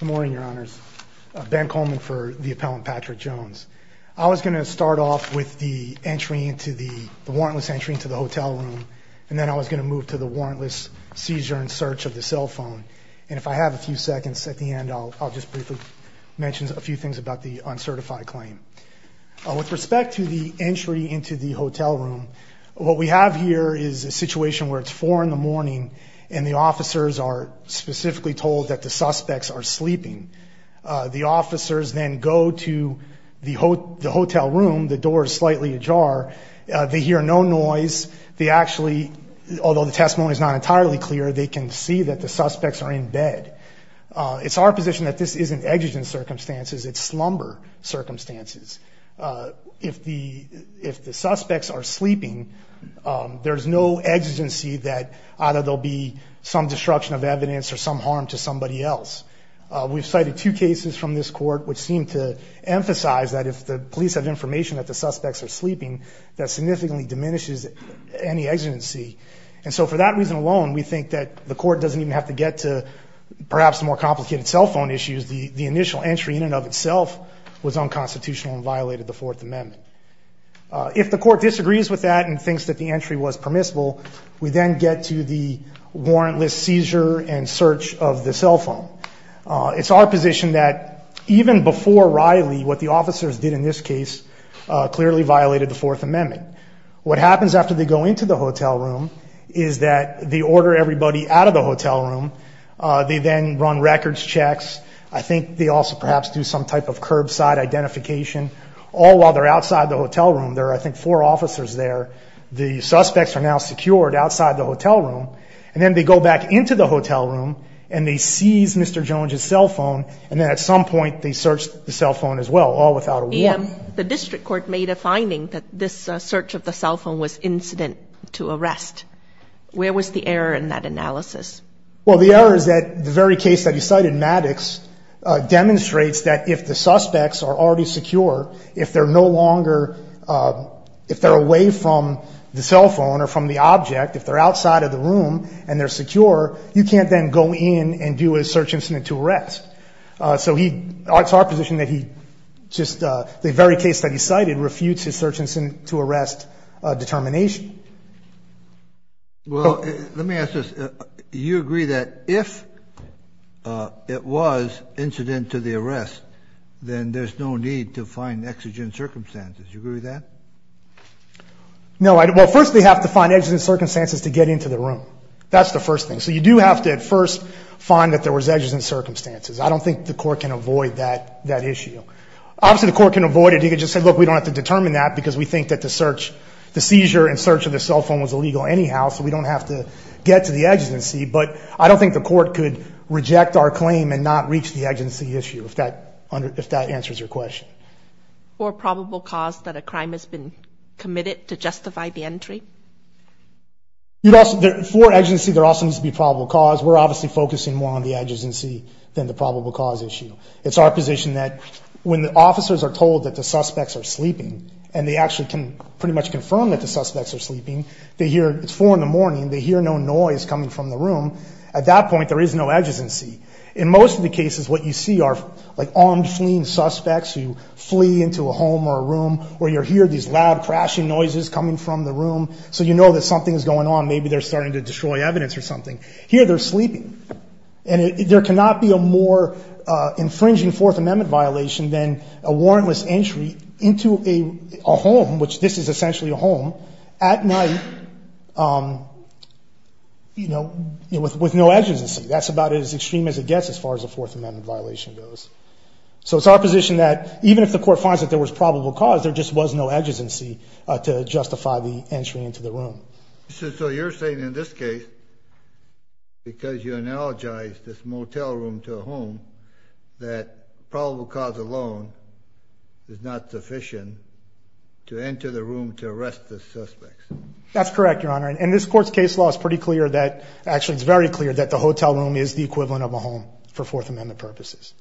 Good morning, your honors. Ben Coleman for the appellant Patrick Jones. I was going to start off with the entry into the the warrantless entry into the hotel room and then I was going to move to the warrantless seizure and search of the cell phone and if I have a few seconds at the end I'll just briefly mention a few things about the uncertified claim. With respect to the entry into the hotel room, what we have here is a situation where it's 4 in the morning and the suspects are sleeping. The officers then go to the hotel room, the door is slightly ajar, they hear no noise, they actually, although the testimony is not entirely clear, they can see that the suspects are in bed. It's our position that this isn't exigent circumstances, it's slumber circumstances. If the suspects are sleeping, there's no exigency that either there'll be some obstruction of evidence or some harm to somebody else. We've cited two cases from this court which seem to emphasize that if the police have information that the suspects are sleeping, that significantly diminishes any exigency. And so for that reason alone, we think that the court doesn't even have to get to perhaps more complicated cell phone issues. The initial entry in and of itself was unconstitutional and violated the Fourth Amendment. If the court disagrees with that and thinks that the entry was permissible, we then get to the warrantless seizure and search of the cell phone. It's our position that even before Riley, what the officers did in this case clearly violated the Fourth Amendment. What happens after they go into the hotel room is that they order everybody out of the hotel room, they then run records checks, I think they also perhaps do some type of curbside identification, all while they're outside the hotel room. There are, I think, four officers there. The suspects are now able to go back into the hotel room and they seize Mr. Jones's cell phone and then at some point they search the cell phone as well, all without a warrant. The district court made a finding that this search of the cell phone was incident to arrest. Where was the error in that analysis? Well, the error is that the very case that you cited, Maddox, demonstrates that if the suspects are already secure, if they're no longer, if they're away from the cell phone or from the object, if they're outside of the room and they're secure, you can't then go in and do a search incident to arrest. So he, it's our position that he just, the very case that he cited, refutes his search incident to arrest determination. Well, let me ask this, you agree that if it was incident to the arrest, then there's no need to find exigent circumstances, you agree with that? No, well first they have to find exigent circumstances to get into the room. That's the first thing. So you do have to at first find that there was exigent circumstances. I don't think the court can avoid that, that issue. Obviously the court can avoid it, you could just say look we don't have to determine that because we think that the search, the seizure and search of the cell phone was illegal anyhow, so we don't have to get to the exigency, but I don't think the court could reject our claim and not reach the exigency issue if that, if that answers your question. Or probable cause that a crime has been For exigency there also needs to be probable cause, we're obviously focusing more on the exigency than the probable cause issue. It's our position that when the officers are told that the suspects are sleeping and they actually can pretty much confirm that the suspects are sleeping, they hear it's 4 in the morning, they hear no noise coming from the room, at that point there is no exigency. In most of the cases what you see are like armed fleeing suspects who flee into a home or a room where you hear these loud crashing noises coming from the room, so you know that something is going on, maybe they're starting to destroy evidence or something. Here they're sleeping. And there cannot be a more infringing Fourth Amendment violation than a warrantless entry into a home, which this is essentially a home, at night, you know, with no exigency. That's about as extreme as it gets as far as a Fourth Amendment violation goes. So it's our position that even if the court finds that there was probable cause, there just was no exigency to justify the entry into the room. So you're saying in this case, because you analogize this motel room to a home, that probable cause alone is not sufficient to enter the room to arrest the suspects? That's correct, Your Honor, and this court's case law is pretty clear that, actually it's very clear, that the hotel room is the equivalent of a home for Fourth Amendment purposes.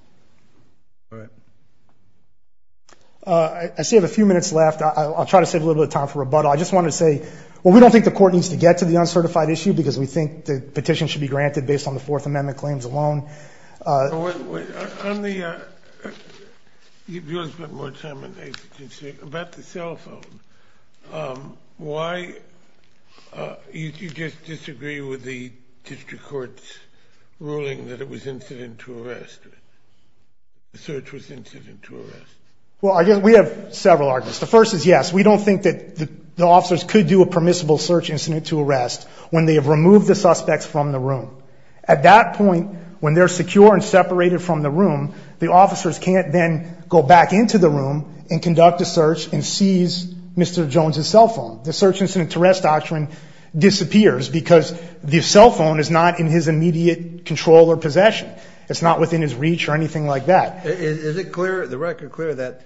I see a few minutes left. I'll try to save a little bit of time for rebuttal. I just wanted to say, well, we don't think the court needs to get to the uncertified issue because we think the petition should be granted based on the Fourth Amendment claims alone. On the cell phone, why did you just disagree with the district court's ruling that it was incident to arrest? Well, I guess we have several arguments. The first is, yes, we don't think that the officers could do a permissible search incident to arrest when they have removed the suspects from the room. At that point, when they're secure and separated from the room, the officers can't then go back into the room and conduct a search and seize Mr. Jones's cell phone. The search incident to arrest doctrine disappears because the cell phone is not in his immediate control or possession. It's not within his reach or anything like that. Is it clear, the record clear, that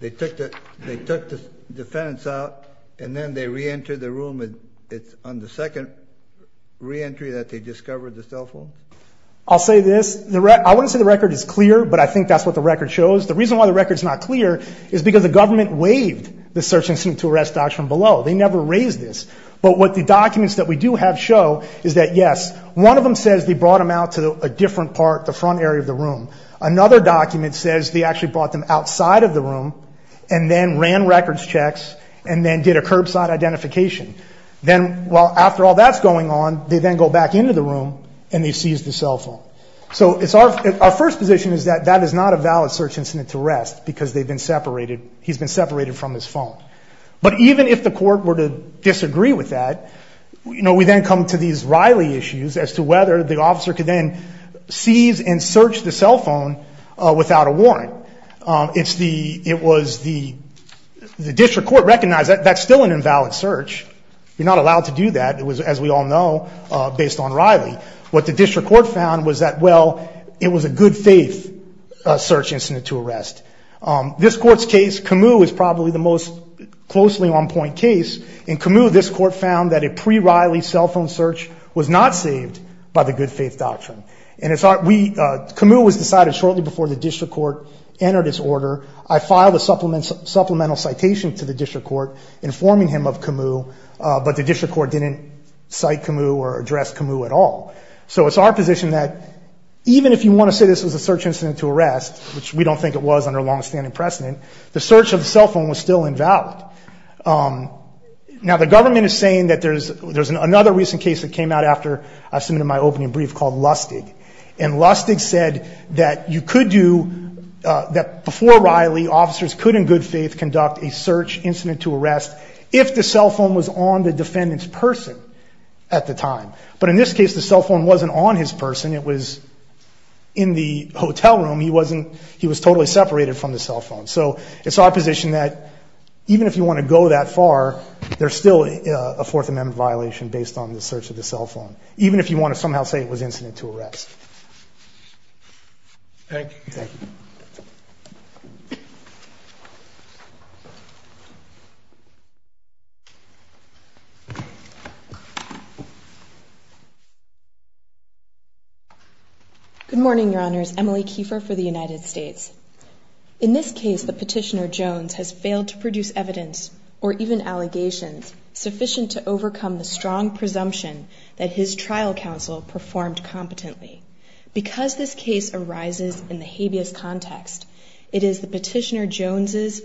they took the defendants out and then they re-entered the room on the second re-entry that they discovered the cell phone? I'll say this, I wouldn't say the record is clear, but I think that's what the record shows. The reason why the record is not clear is because the government waived the search incident to arrest doctrine below. They never raised this. But what the documents that we do have show is that, yes, one of them says they brought him out to a different part, the front area of the room. Another document says they actually brought them outside of the room and then ran records checks and then did a curbside identification. Then, well, after all that's going on, they then go back into the room and they seize the cell phone. So it's our, our first position is that that is not a valid search incident to arrest because they've been separated, he's been separated from his phone. But even if the court were to disagree with that, you know, we then come to these Riley issues as to whether the officer could then seize and search the cell phone without a warrant. It's the, it was the, the district court recognized that that's still an invalid search. You're not allowed to do that. It was, as we all know, based on Riley. What the district court found was that, well, it was a good faith search incident to arrest. This court's case, Camus, is probably the most closely on point case. In Camus, this court found that a pre-Riley cell phone search was not saved by the good faith doctrine. And it's our, we, Camus was decided shortly before the district court entered its order. I filed a supplement, supplemental citation to the district court informing him of Camus, but the district court didn't cite Camus or address Camus at all. So it's our position that even if you want to say this was a search incident to arrest, which we don't think it was under long-standing precedent, the search of the cell phone was still invalid. Now, the government is saying that there's, there's another recent case that came out after I submitted my opening brief called Lustig. And Lustig said that you could do, that before Riley, officers could in good faith conduct a search incident to arrest if the cell phone was on the defendant's person at the time. But in this case, the cell phone wasn't on his person. It was in the hotel room. He wasn't, he was totally separated from the cell phone. So it's our position that even if you want to go that far, there's still a Fourth Amendment violation based on the search of the cell phone. Even if you want to somehow say it was incident to arrest. Thank you. Good morning, Your Honors. Emily Kiefer for the United States. In this case, the petitioner Jones has failed to produce evidence or even allegations sufficient to overcome the strong presumption that his trial counsel performed competently. Because this case arises in the habeas context, it is the petitioner Jones's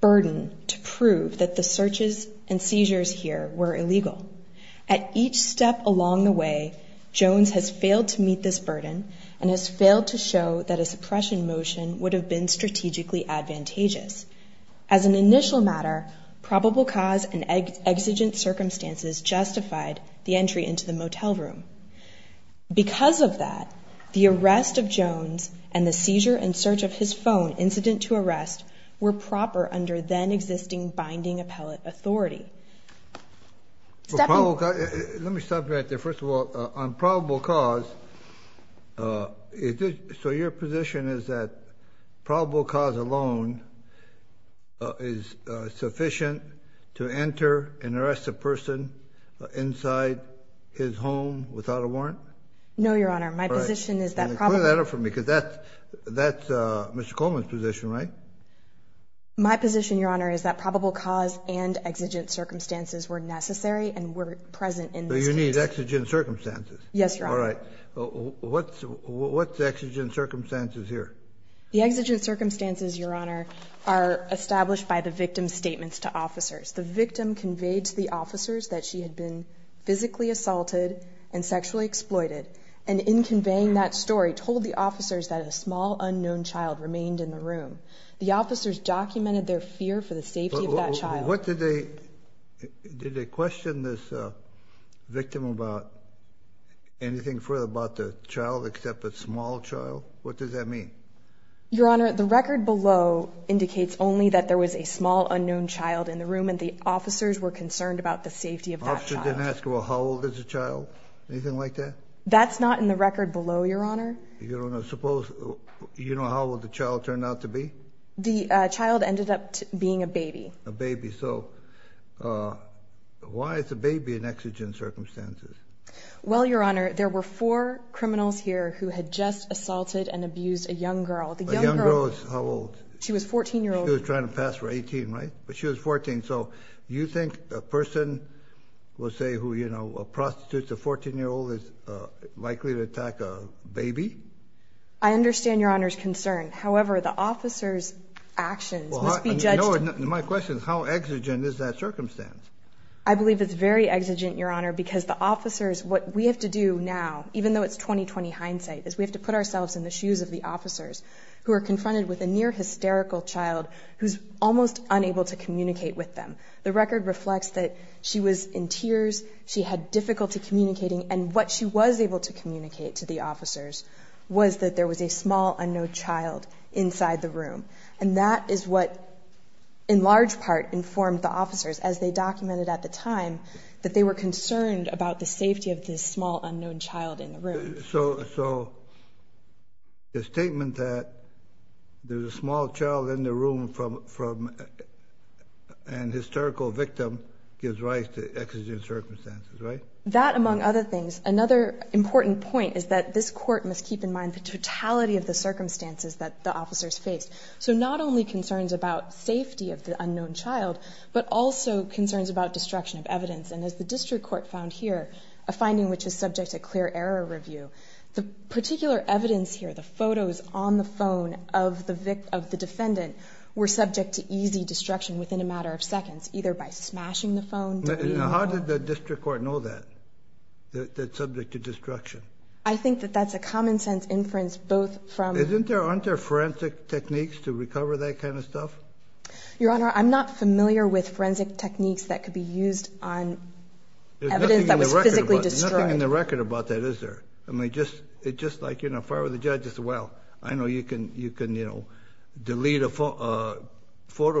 burden to prove that the searches and seizures here were illegal. At each step along the way, Jones has failed to meet this burden and has failed to show that a suppression motion would have been strategically advantageous. As an initial matter, probable cause and exigent circumstances justified the entry into the motel room. Because of that, the arrest of Jones and the seizure and search of his phone incident to arrest were proper under then existing binding appellate authority. Let me stop you right there. First of all, on probable cause. Uh, so your position is that probable cause alone is sufficient to enter and arrest a person inside his home without a warrant? No, Your Honor. My position is that that's that's Mr Coleman's position, right? My position, Your Honor, is that probable cause and exigent circumstances were necessary and were present in this unique exigent circumstances. Yes, Your Honor. All right. What's what's exigent circumstances here? The exigent circumstances, Your Honor, are established by the victim's statements to officers. The victim conveyed to the officers that she had been physically assaulted and sexually exploited. And in conveying that story told the officers that a small unknown child remained in the room. The officers documented their fear for the safety of that child. What did they did they question this victim about anything further about the child except a small child? What does that mean? Your Honor, the record below indicates only that there was a small unknown child in the room, and the officers were concerned about the safety of that child. How old is a child? Anything like that? That's not in the record below, Your Honor. You don't suppose you know how old the is a baby in exigent circumstances? Well, Your Honor, there were four criminals here who had just assaulted and abused a young girl. The young girls. How old? She was 14 year old trying to pass for 18, right? But she was 14. So you think a person will say who, you know, a prostitute to 14 year old is likely to attack a baby. I understand Your Honor's concern. However, the officer's actions must be judged. My question is, how exigent is that circumstance? I believe it's very exigent, Your Honor, because the officers what we have to do now, even though it's 2020 hindsight is we have to put ourselves in the shoes of the officers who are confronted with a near hysterical child who's almost unable to communicate with them. The record reflects that she was in tears. She had difficulty communicating, and what she was able to communicate to the officers was that there was a small unknown child inside the room, and that is what, in large part, informed the officers, as they documented at the time, that they were concerned about the safety of this small unknown child in the room. So the statement that there's a small child in the room from an hysterical victim gives rise to exigent circumstances, right? That, among other things, another important point is that this court must keep in mind the totality of the circumstances that the officers faced. So not only concerns about safety of the unknown child, but also concerns about destruction of evidence, and as the district court found here, a finding which is subject to clear error review, the particular evidence here, the photos on the phone of the defendant, were subject to easy destruction within a matter of seconds, either by smashing the phone. How did the district court know that, that it's subject to destruction? I think that that's a common-sense inference, both from... Isn't there, aren't there forensic techniques to recover that kind of stuff? Your Honor, I'm not familiar with forensic techniques that could be used on evidence that was physically destroyed. There's nothing in the record about that, is there? I mean, just like, you know, if I were the judge, I'd say, well, I know you can, you can, you know, delete a photo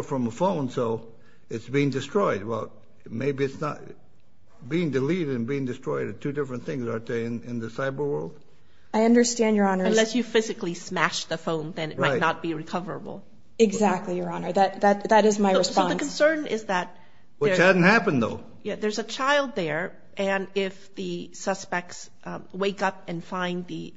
from a phone, so it's being destroyed. Well, maybe it's not being deleted and being destroyed are two different things, aren't they, in the cyber world? I understand, Your Honor. Unless you physically smashed the phone, then it might not be recoverable. Exactly, Your Honor. That, that, that is my response. The concern is that... Which hasn't happened, though. Yeah, there's a child there, and if the suspects wake up and find the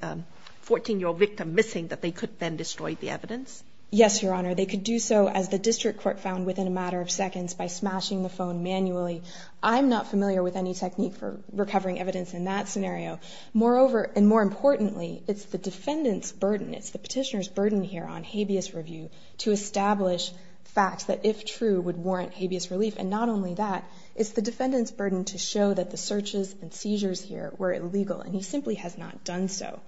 14-year-old victim missing, that they could then destroy the evidence? Yes, Your Honor. They could do so, as the district court found within a matter of seconds, by smashing the phone manually. I'm not familiar with any technique for recovering evidence in that scenario. Moreover, and more importantly, it's the defendant's burden, it's the petitioner's burden here on habeas review to establish facts that, if true, would warrant habeas relief. And not only that, it's the defendant's burden to show that the searches and seizures here were illegal, and he simply has not done so.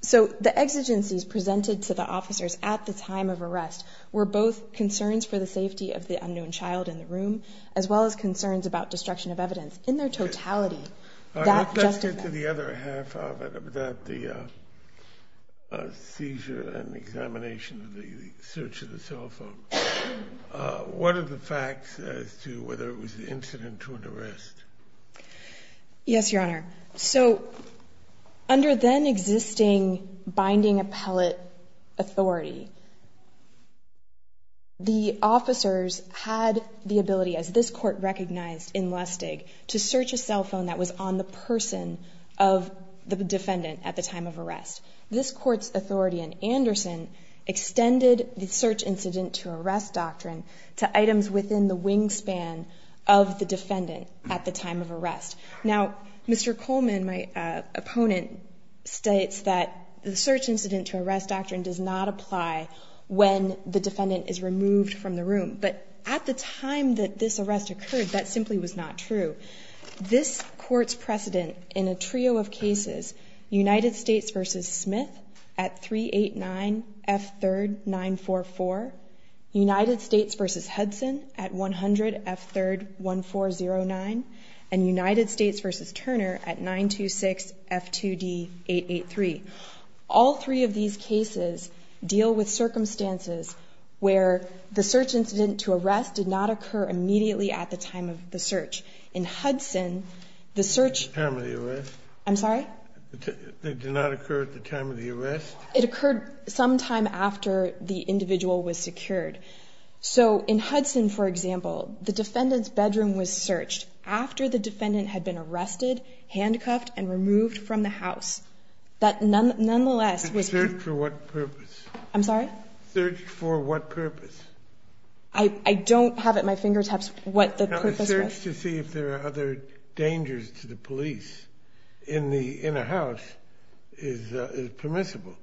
So, the exigencies presented to the officers at the time of arrest were both concerns for the safety of the unknown child in the room, as well as concerns about destruction of evidence. In their totality, that... Let's get to the other half of it, of that, the seizure and examination of the search of the cell phone. What are the facts as to whether it was an incident or an arrest? Yes, Your Honor. So, under then-existing binding appellate authority, the officers had the ability, as this court recognized in Lustig, to search a cell phone that was on the person of the defendant at the time of arrest. This court's authority in Anderson extended the search incident to arrest doctrine to items within the wingspan of the defendant at the time of arrest. Now, Mr. The search incident to arrest doctrine does not apply when the defendant is removed from the room, but at the time that this arrest occurred, that simply was not true. This court's precedent in a trio of cases, United States v. Smith at 389 F. 3rd 944, United States v. All three of these cases deal with circumstances where the search incident to arrest did not occur immediately at the time of the search. In Hudson, the search... At the time of the arrest? I'm sorry? It did not occur at the time of the arrest? It occurred sometime after the individual was secured. So, in Hudson, for example, the defendant's bedroom was searched after the defendant had been arrested, handcuffed, and removed from the house. But nonetheless... Searched for what purpose? I'm sorry? Searched for what purpose? I don't have at my fingertips what the purpose was. No, a search to see if there are other dangers to the police in a house is permissible.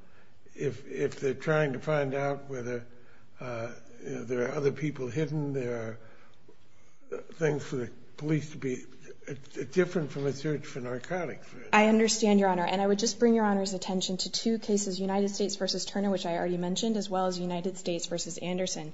If they're trying to find out whether there are other people hidden, there are things for the police to be... It's different from a search for narcotics. I understand, Your Honor. And I would just bring Your Honor's attention to two cases, United States v. Turner, which I already mentioned, as well as United States v. Anderson.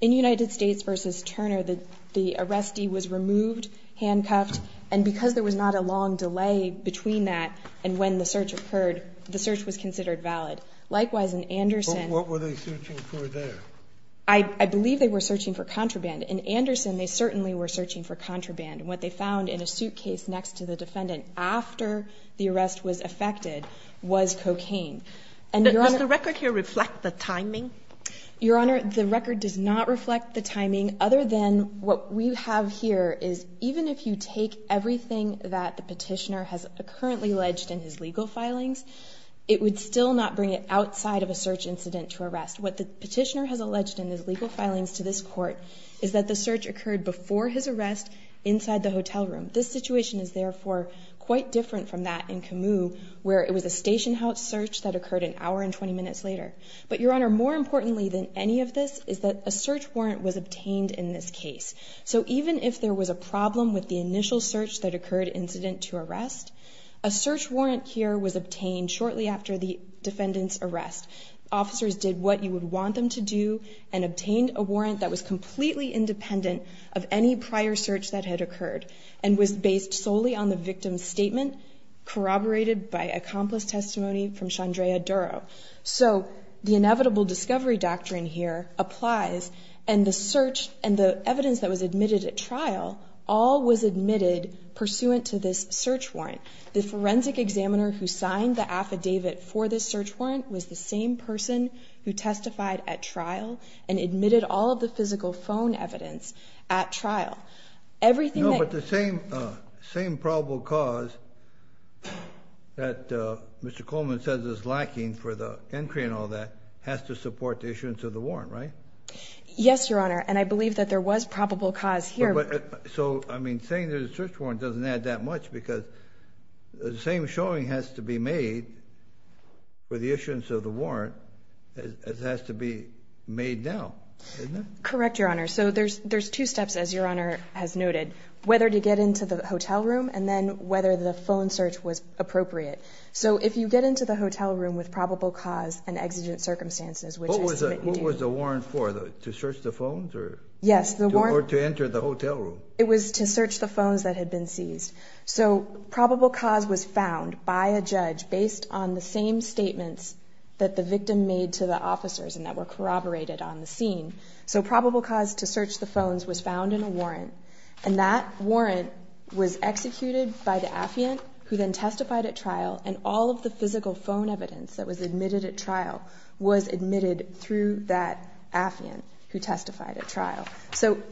In United States v. Turner, the arrestee was removed, handcuffed, and because there was not a long delay between that and when the search occurred, the search was considered valid. Likewise, in Anderson... What were they searching for there? I believe they were searching for contraband. In Anderson, they certainly were searching for contraband. What they found in a suitcase next to the defendant after the arrest was affected was cocaine. Does the record here reflect the timing? Your Honor, the record does not reflect the timing, other than what we have here is even if you take everything that the petitioner has currently alleged in his legal filings, it would still not bring it outside of a search incident to arrest. What the petitioner has alleged in his legal filings to this court is that the search occurred before his arrest inside the hotel room. This situation is therefore quite different from that in Camus, where it was a station house search that occurred an hour and 20 minutes later. But Your Honor, more importantly than any of this is that a search warrant was obtained in this case. So even if there was a problem with the initial search that occurred incident to arrest, a search warrant here was obtained shortly after the defendant's arrest. Officers did what you would want them to do and obtained a warrant that was completely independent of any prior search that had occurred and was based solely on the victim's statement corroborated by accomplice testimony from Shandrea Duro. So the inevitable discovery doctrine here applies and the search and the forensic examiner who signed the affidavit for this search warrant was the same person who testified at trial and admitted all of the physical phone evidence at trial. Everything but the same same probable cause that Mr. Coleman says is lacking for the entry and all that has to support the issuance of the warrant, right? Yes, Your Honor, and I believe that there was probable cause here. But so I mean, saying there's a search warrant doesn't add that much because the same showing has to be made for the issuance of the warrant. It has to be made now. Correct, Your Honor. So there's there's two steps, as Your Honor has noted, whether to get into the hotel room and then whether the phone search was appropriate. So if you get into the hotel room with probable cause and exigent circumstances, which was a warrant for the to search the phones Yes, the warrant to enter the hotel room. It was to search the phones that had been seized. So probable cause was found by a judge based on the same statements that the victim made to the officers and that were corroborated on the scene. So probable cause to search the phones was found in a warrant and that warrant was executed by the affiant who then testified at trial and all of the physical phone evidence that was admitted at trial was admitted through that affiant who So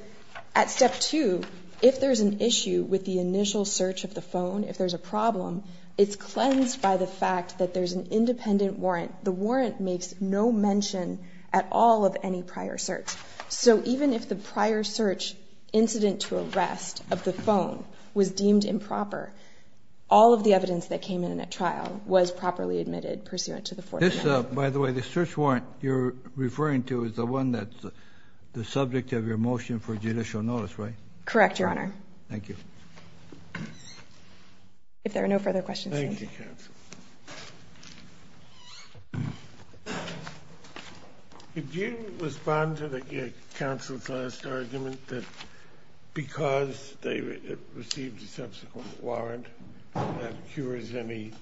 at step two, if there's an issue with the initial search of the phone, if there's a problem, it's cleansed by the fact that there's an independent warrant. The warrant makes no mention at all of any prior search. So even if the prior search incident to arrest of the phone was deemed improper, all of the evidence that came in at trial was properly admitted pursuant By the way, the search warrant you're referring to is the one that's the subject of your motion for judicial notice, right? Correct, your honor. Thank you. If there are no further questions. If you respond to the council's last argument that because they received a subsequent warrant that cures any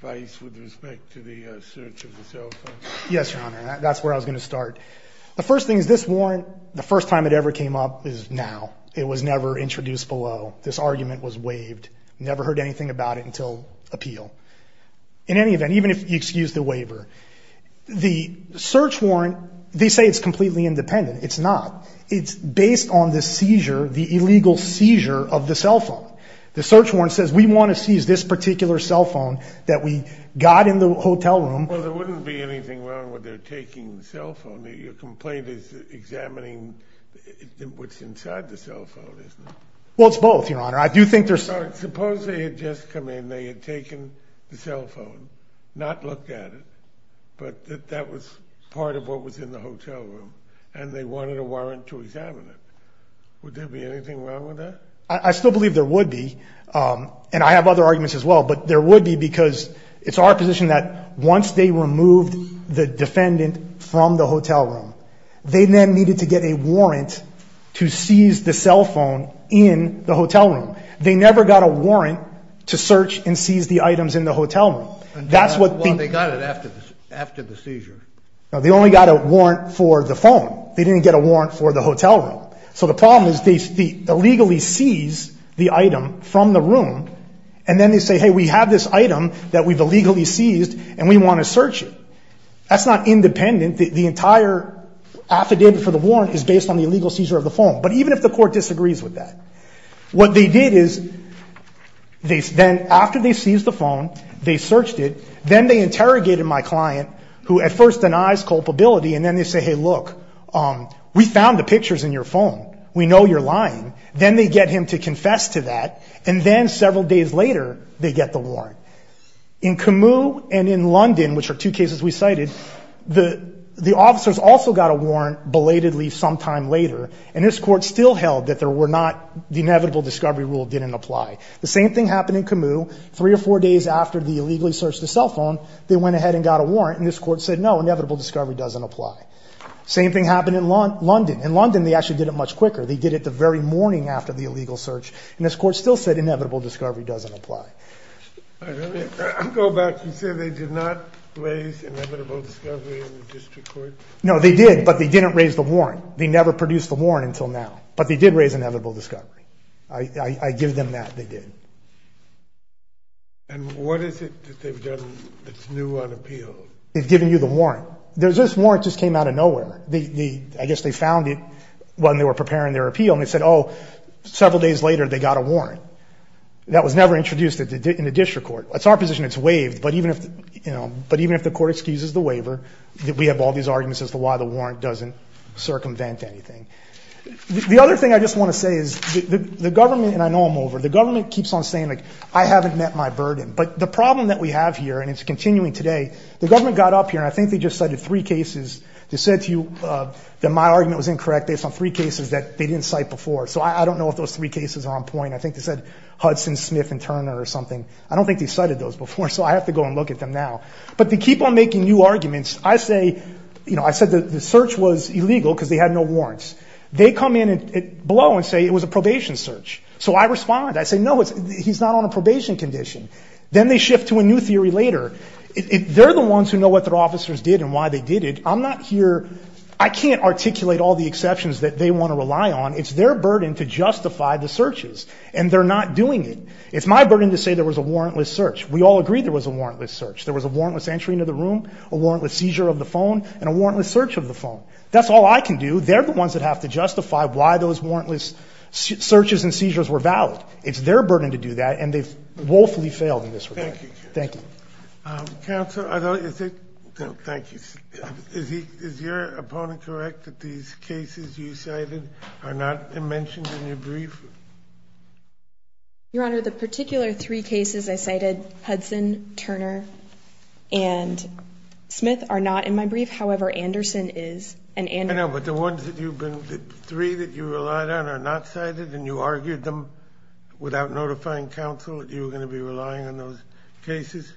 vice with respect to the search of the cell phone. Yes, your honor. That's where I was going to start. The first thing is this warrant, the first time it ever came up is now. It was never introduced below. This argument was waived. Never heard anything about it until appeal. In any event, even if you excuse the waiver, the search warrant, they say it's completely independent. It's not. It's based on the seizure, the illegal seizure of the cell phone. The search warrant says we want to seize this particular cell phone that we got in the hotel room. Well, there wouldn't be anything wrong with their taking the cell phone. Your complaint is examining what's inside the cell phone, isn't it? Well, it's both, your honor. I do think there's... Suppose they had just come in, they had taken the cell phone, not looked at it, but that that was part of what was in the hotel room and they wanted a warrant to examine it. Would there be anything wrong with that? I still believe there would be, and I have other arguments as well, but there would be because it's our position that once they removed the defendant from the hotel room, they then needed to get a warrant to seize the cell phone in the hotel room. They never got a warrant to search and seize the items in the hotel room. That's what... Well, they got it after the seizure. No, they only got a warrant for the phone. They didn't get a warrant for the hotel room. So the problem is they illegally seize the item from the room and then they say, hey, we have this item that we've illegally seized and we want to search it. That's not independent. The entire affidavit for the warrant is based on the illegal seizure of the phone. But even if the court disagrees with that, what they did is then after they seized the phone, they searched it, then they interrogated my client, who at first denies culpability, and then they say, hey, look, we found the pictures in your phone. We know you're lying. Then they get him to confess to that, and then several days later, they get the warrant. In Camus and in London, which are two cases we cited, the officers also got a warrant belatedly sometime later, and this court still held that there were not... the inevitable discovery rule didn't apply. The same thing happened in Camus. Three or four days after they illegally searched the cell phone, they went ahead and got a warrant, and this court said, no, inevitable discovery doesn't apply. Same thing happened in London. In London, they actually did it much quicker. They did it the very morning after the illegal search, and this court still said inevitable discovery doesn't apply. I go back and say they did not raise inevitable discovery in the district court. No, they did, but they didn't raise the warrant. They never produced the warrant until now, but they did raise inevitable discovery. I give them that they did. And what is it that they've done that's new on appeal? They've given you the warrant. This warrant just came out of nowhere. I guess they found it when they were preparing their appeal, and they said, oh, several days later, they got a warrant. That was never introduced in the district court. That's our position. It's waived, but even if the court excuses the waiver, we have all these arguments as to why the warrant doesn't circumvent anything. The other thing I just want to say is the government, and I know I'm over, the government keeps on saying, I haven't met my burden, but the problem that we have here, and it's continuing today, the government got up here, and I think they just cited three cases that said to you that my argument was incorrect based on three cases that they didn't cite before, so I don't know if those three cases are on point. I think they said Hudson, Smith, and Turner or something. I don't think they cited those before, so I have to go and look at them now, but they keep on making new arguments. I said the search was illegal because they had no warrants. They come in below and say it was a probation search, so I respond. I say no, he's not on a probation condition. Then they shift to a new theory later. They're the ones who know what their officers did and why they did it. I'm not here, I can't articulate all the exceptions that they want to rely on. It's their burden to justify the searches, and they're not doing it. It's my burden to say there was a warrantless search. We all agree there was a warrantless search. There was a warrantless entry into the room, a warrantless seizure of the phone, and a warrantless search. It's their burden to do that, and they've woefully failed in this regard. Thank you, counsel. Is your opponent correct that these cases you cited are not mentioned in your brief? Your Honor, the particular three cases I cited, Hudson, Turner, and Smith, are not in my brief. The three that you relied on are not cited, and you argued them without notifying counsel that you were going to be relying on those cases?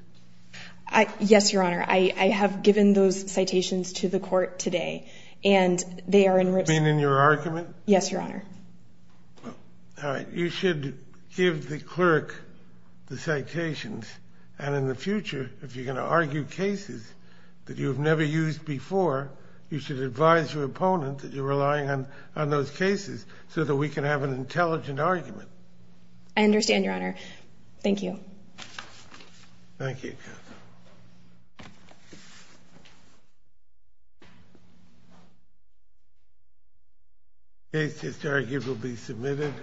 Yes, Your Honor. I have given those citations to the court today, and they are in- Been in your argument? Yes, Your Honor. All right. You should give the clerk the citations, and in the future, if you're going to argue cases that you've never used before, you should advise your opponent that you're relying on those cases so that we can have an intelligent argument. I understand, Your Honor. Thank you. Thank you, counsel. The case is arguably submitted.